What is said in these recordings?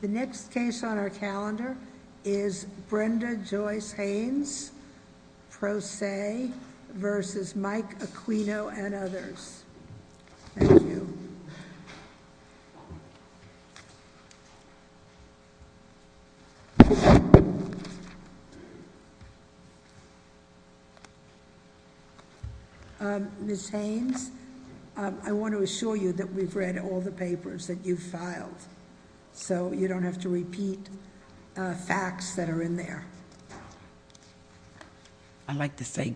The next case on our calendar is Brenda Joyce Haynes, pro se, versus Mike Acquino and others. Thank you. Ms. Haynes, I want to assure you that we've read all the papers that you've filed, so you don't have to repeat facts that are in there. I'd like to say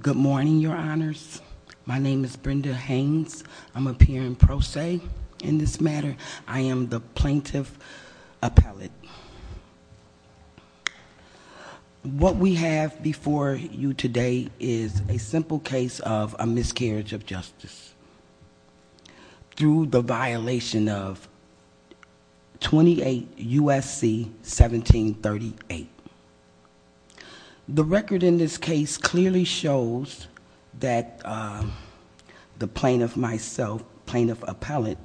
good morning, your honors. My name is Brenda Haynes. I'm appearing pro se in this matter. I am the plaintiff appellate. What we have before you today is a simple case of a miscarriage of justice through the violation of 28 U.S.C. 1738. The record in this case clearly shows that the plaintiff myself, plaintiff appellate,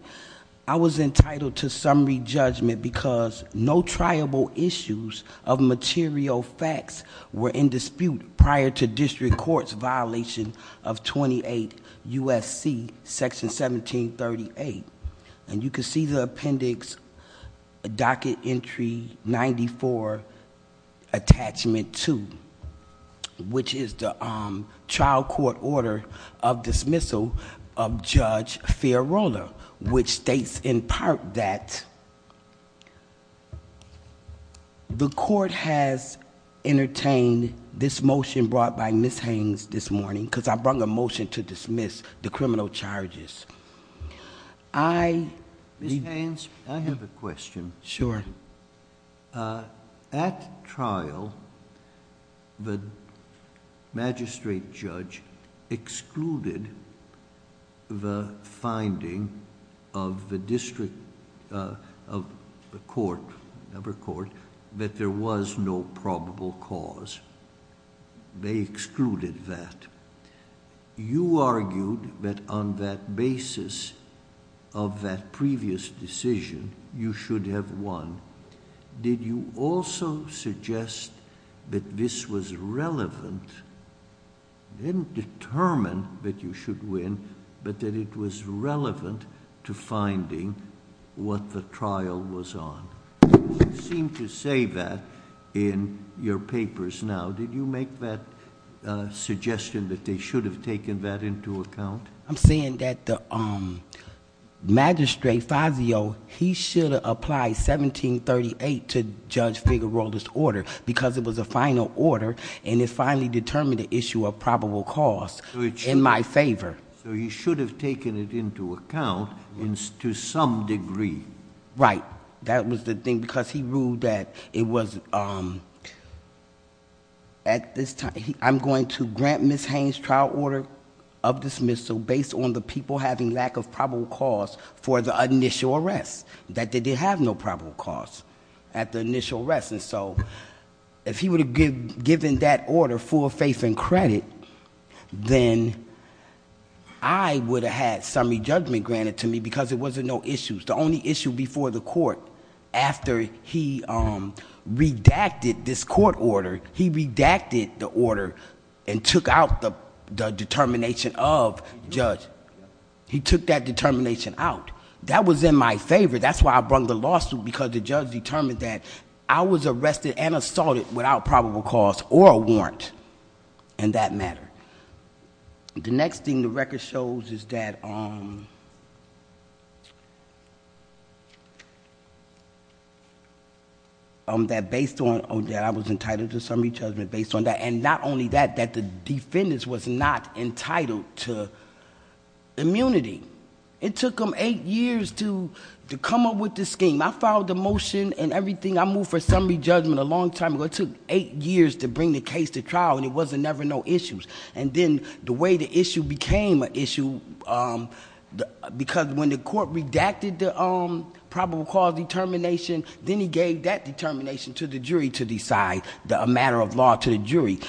I was entitled to summary judgment because no triable issues of material facts were in dispute prior to district court's violation of 28 U.S.C. section 1738. And you can see the appendix, docket entry 94, attachment 2, which is the trial court order of dismissal of Judge Fiorulla, which states in part that the court has entertained this motion brought by Ms. Haynes this morning, because I brung a motion to dismiss the criminal charges. Ms. Haynes? I have a question. Sure. At trial, the magistrate judge excluded the finding of the district... of the court, never court, that there was no probable cause. They excluded that. You argued that on that basis of that previous decision, you should have won. Did you also suggest that this was relevant? You didn't determine that you should win, but that it was relevant to finding what the trial was on. You seem to say that in your papers now. Did you make that suggestion that they should have taken that into account? I'm saying that the magistrate, Fazio, he should have applied 1738 to Judge Figueroa's order because it was a final order, and it finally determined the issue of probable cause in my favor. So you should have taken it into account to some degree. Right. That was the thing, because he ruled that it was... I'm going to grant Ms. Haynes' trial order of dismissal based on the people having lack of probable cause for the initial arrest, that they did have no probable cause at the initial arrest. And so, if he would have given that order full faith and credit, then I would have had summary judgment granted to me because there wasn't no issues. The only issue before the court, after he redacted this court order, he redacted the order and took out the determination of the judge. He took that determination out. That was in my favor. That's why I brought the lawsuit, because the judge determined that I was arrested and assaulted without probable cause or a warrant in that matter. The next thing the record shows is that I was entitled to summary judgment based on that, and not only that, that the defendants was not entitled to immunity. It took them eight years to come up with this scheme. I followed the motion and everything. I moved for summary judgment a long time ago. It took eight years to bring the case to trial, and there was never no issues. And then the way the issue became an issue, because when the court redacted the probable cause determination, then he gave that determination to the jury to decide a matter of law to the jury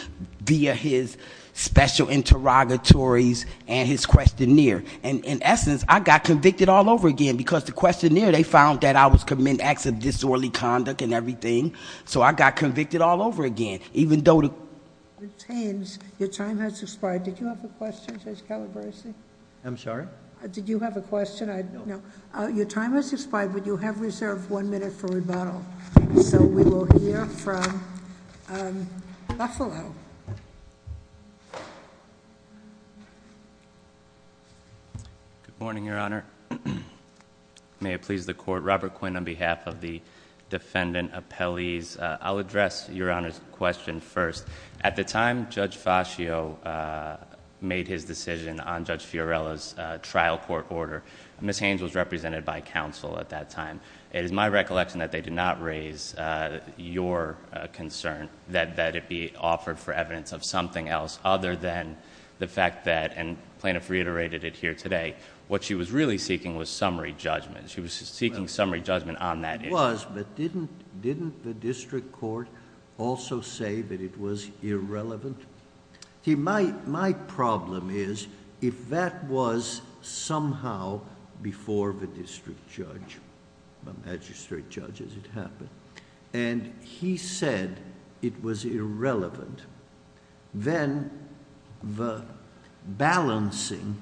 via his special interrogatories and his questionnaire. And in essence, I got convicted all over again, because the questionnaire, they found that I was committing acts of disorderly conduct and everything. So I got convicted all over again, even though the- Your time has expired. Did you have a question, Judge Calabresi? I'm sorry? Did you have a question? No. Your time has expired, but you have reserved one minute for rebuttal. So we will hear from Buffalo. Good morning, Your Honor. May it please the court. Robert Quinn on behalf of the defendant appellees. I'll address Your Honor's question first. At the time Judge Fascio made his decision on Judge Fiorella's trial court order, Ms. Haynes was represented by counsel at that time. It is my recollection that they did not raise your concern that it be offered for evidence of something else other than the fact that, and plaintiff reiterated it here today, what she was really seeking was summary judgment. She was seeking summary judgment on that issue. It was, but didn't the district court also say that it was irrelevant? My problem is, if that was somehow before the district judge, the magistrate judge, as it happened, and he said it was irrelevant, then the balancing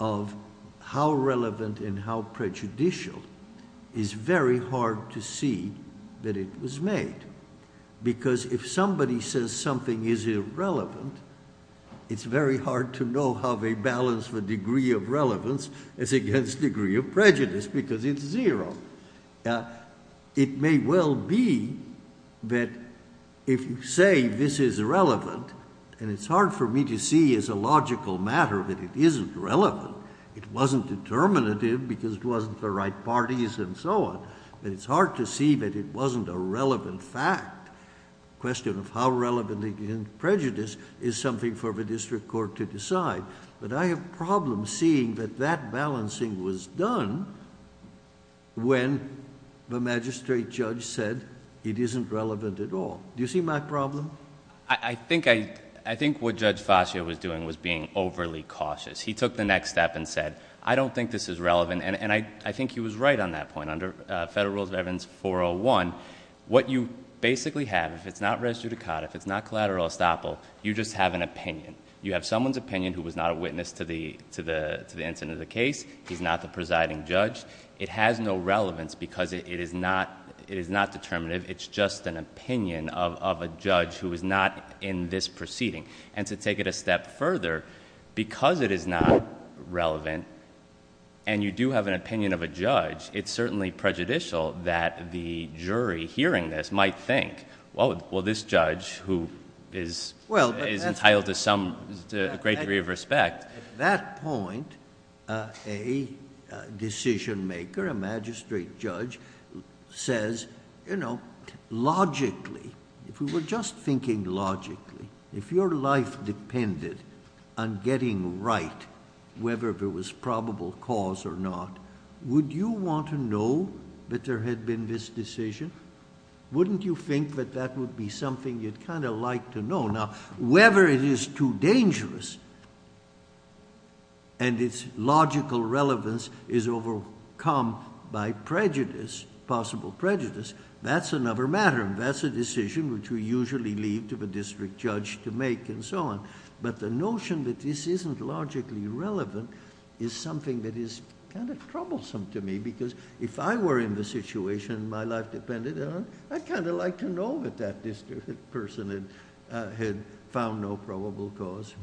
of how relevant and how prejudicial is very hard to see that it was made. Because if somebody says something is irrelevant, it's very hard to know how they balance the degree of relevance as against degree of prejudice, because it's zero. It may well be that if you say this is irrelevant, and it's hard for me to see as a logical matter that it isn't relevant, it wasn't determinative because it wasn't the right parties and so on, then it's hard to see that it wasn't a relevant fact. The question of how relevant against prejudice is something for the district court to decide. But I have problems seeing that that balancing was done when the magistrate judge said it isn't relevant at all. Do you see my problem? I think what Judge Fascio was doing was being overly cautious. He took the next step and said, I don't think this is relevant. And I think he was right on that point. Under Federal Rules of Evidence 401, what you basically have, if it's not res judicata, if it's not collateral estoppel, you just have an opinion. You have someone's opinion who was not a witness to the incident of the case. He's not the presiding judge. It has no relevance because it is not determinative. It's just an opinion of a judge who is not in this proceeding. And to take it a step further, because it is not relevant, and you do have an opinion of a judge, it's certainly prejudicial that the jury hearing this might think, well, this judge who is entitled to a great degree of respect... At that point, a decision maker, a magistrate judge, says, you know, logically, if we were just thinking logically, if your life depended on getting right, whether there was probable cause or not, would you want to know that there had been this decision? Wouldn't you think that that would be something you'd kind of like to know? Now, whether it is too dangerous and its logical relevance is overcome by prejudice, possible prejudice, that's another matter. That's a decision which we usually leave to the district judge to make and so on. But the notion that this isn't logically relevant is something that is kind of troublesome to me because if I were in the situation my life depended on, I'd kind of like to know that that district person had found no probable cause.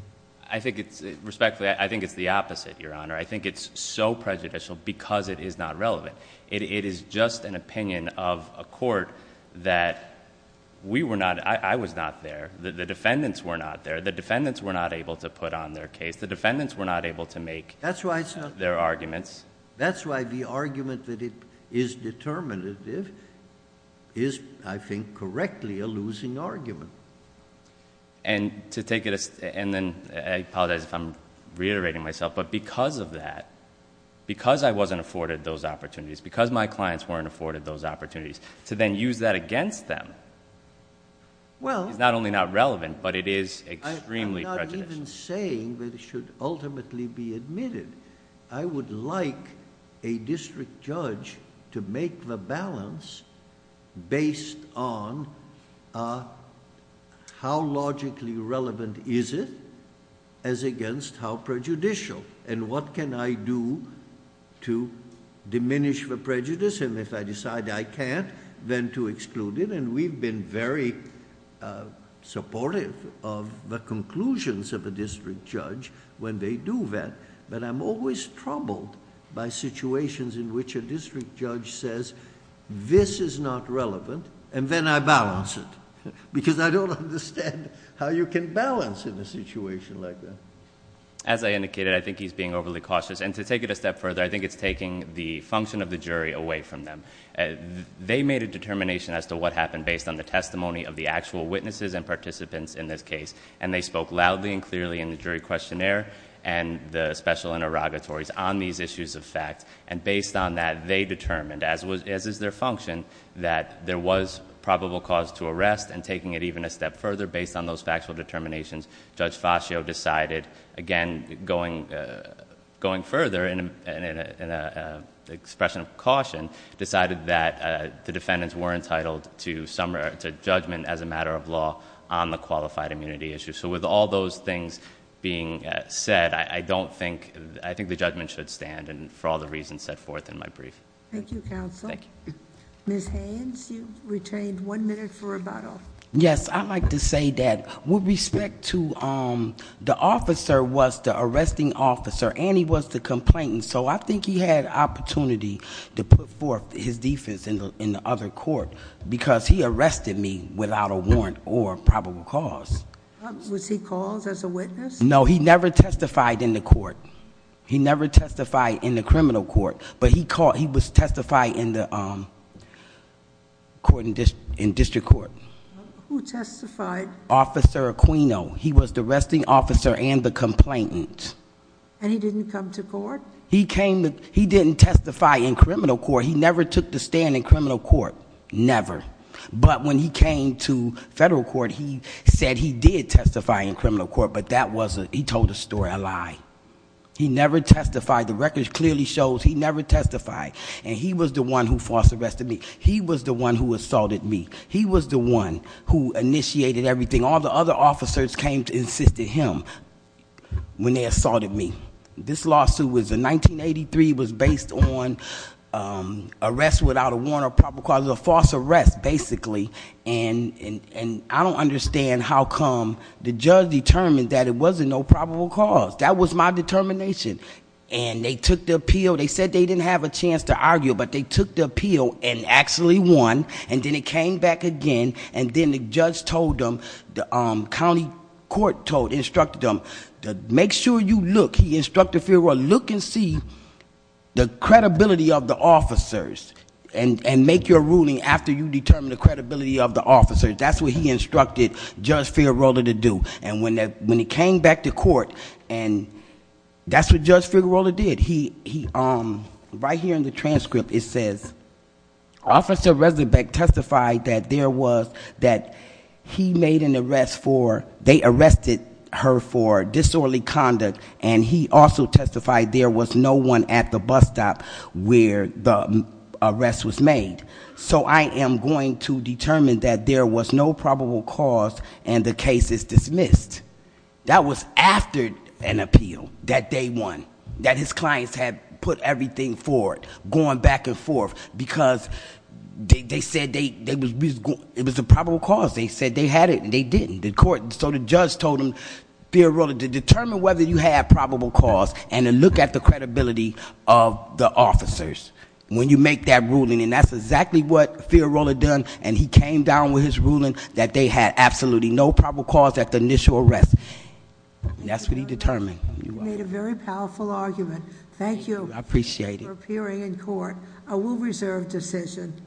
I think it's... respectfully, I think it's the opposite, Your Honor. I think it's so prejudicial because it is not relevant. It is just an opinion of a court that we were not... I was not there. The defendants were not there. The defendants were not able to put on their case. The defendants were not able to make their arguments. That's why the argument that it is determinative is, I think, correctly a losing argument. And to take it... and then I apologize if I'm reiterating myself. But because of that, because I wasn't afforded those opportunities, because my clients weren't afforded those opportunities, to then use that against them is not only not relevant, but it is extremely prejudicial. I'm not even saying that it should ultimately be admitted. I would like a district judge to make the balance based on how logically relevant is it as against how prejudicial. And what can I do to diminish the prejudice? And if I decide I can't, then to exclude it. And we've been very supportive of the conclusions of a district judge when they do that. But I'm always troubled by situations in which a district judge says, this is not relevant, and then I balance it. Because I don't understand how you can balance in a situation like that. As I indicated, I think he's being overly cautious. And to take it a step further, I think it's taking the function of the jury away from them. They made a determination as to what happened based on the testimony of the actual witnesses and participants in this case. And they spoke loudly and clearly in the jury questionnaire and the special interrogatories on these issues of fact. And based on that, they determined, as is their function, that there was probable cause to arrest. And taking it even a step further, based on those factual determinations, Judge Fascio decided, again, going further in an expression of caution, decided that the defendants were entitled to judgment as a matter of law on the qualified immunity issue. So with all those things being said, I think the judgment should stand, and for all the reasons set forth in my brief. Thank you, counsel. Thank you. Ms. Haynes, you've retained one minute for rebuttal. Yes, I'd like to say that with respect to the officer was the arresting officer, and he was the complainant. So I think he had opportunity to put forth his defense in the other court, because he arrested me without a warrant or probable cause. Was he caused as a witness? No, he never testified in the court. He never testified in the criminal court, but he was testified in the district court. Who testified? Officer Aquino. He was the arresting officer and the complainant. And he didn't come to court? He didn't testify in criminal court. He never took the stand in criminal court. Never. But when he came to federal court, he said he did testify in criminal court, but he told a story, a lie. He never testified. The record clearly shows he never testified, and he was the one who false arrested me. He was the one who assaulted me. He was the one who initiated everything. All the other officers came to assist him when they assaulted me. This lawsuit was in 1983. It was based on arrest without a warrant or probable cause. It was a false arrest, basically. And I don't understand how come the judge determined that it wasn't no probable cause. That was my determination. And they took the appeal. They said they didn't have a chance to argue, but they took the appeal and actually won. And then it came back again, and then the judge told them, the county court instructed them, make sure you look, he instructed Figueroa, look and see the credibility of the officers and make your ruling after you determine the credibility of the officers. That's what he instructed Judge Figueroa to do. And when it came back to court, and that's what Judge Figueroa did. Right here in the transcript it says, Officer Resnick testified that he made an arrest for, they arrested her for disorderly conduct, and he also testified there was no one at the bus stop where the arrest was made. So I am going to determine that there was no probable cause and the case is dismissed. That was after an appeal that they won, that his clients had put everything forward, going back and forth because they said it was a probable cause. They said they had it and they didn't. So the judge told him, Figueroa, to determine whether you had probable cause and to look at the credibility of the officers when you make that ruling. And that's exactly what Figueroa had done, and he came down with his ruling that they had absolutely no probable cause at the initial arrest. And that's what he determined. You made a very powerful argument. Thank you. I appreciate it. For appearing in court. A will reserve decision.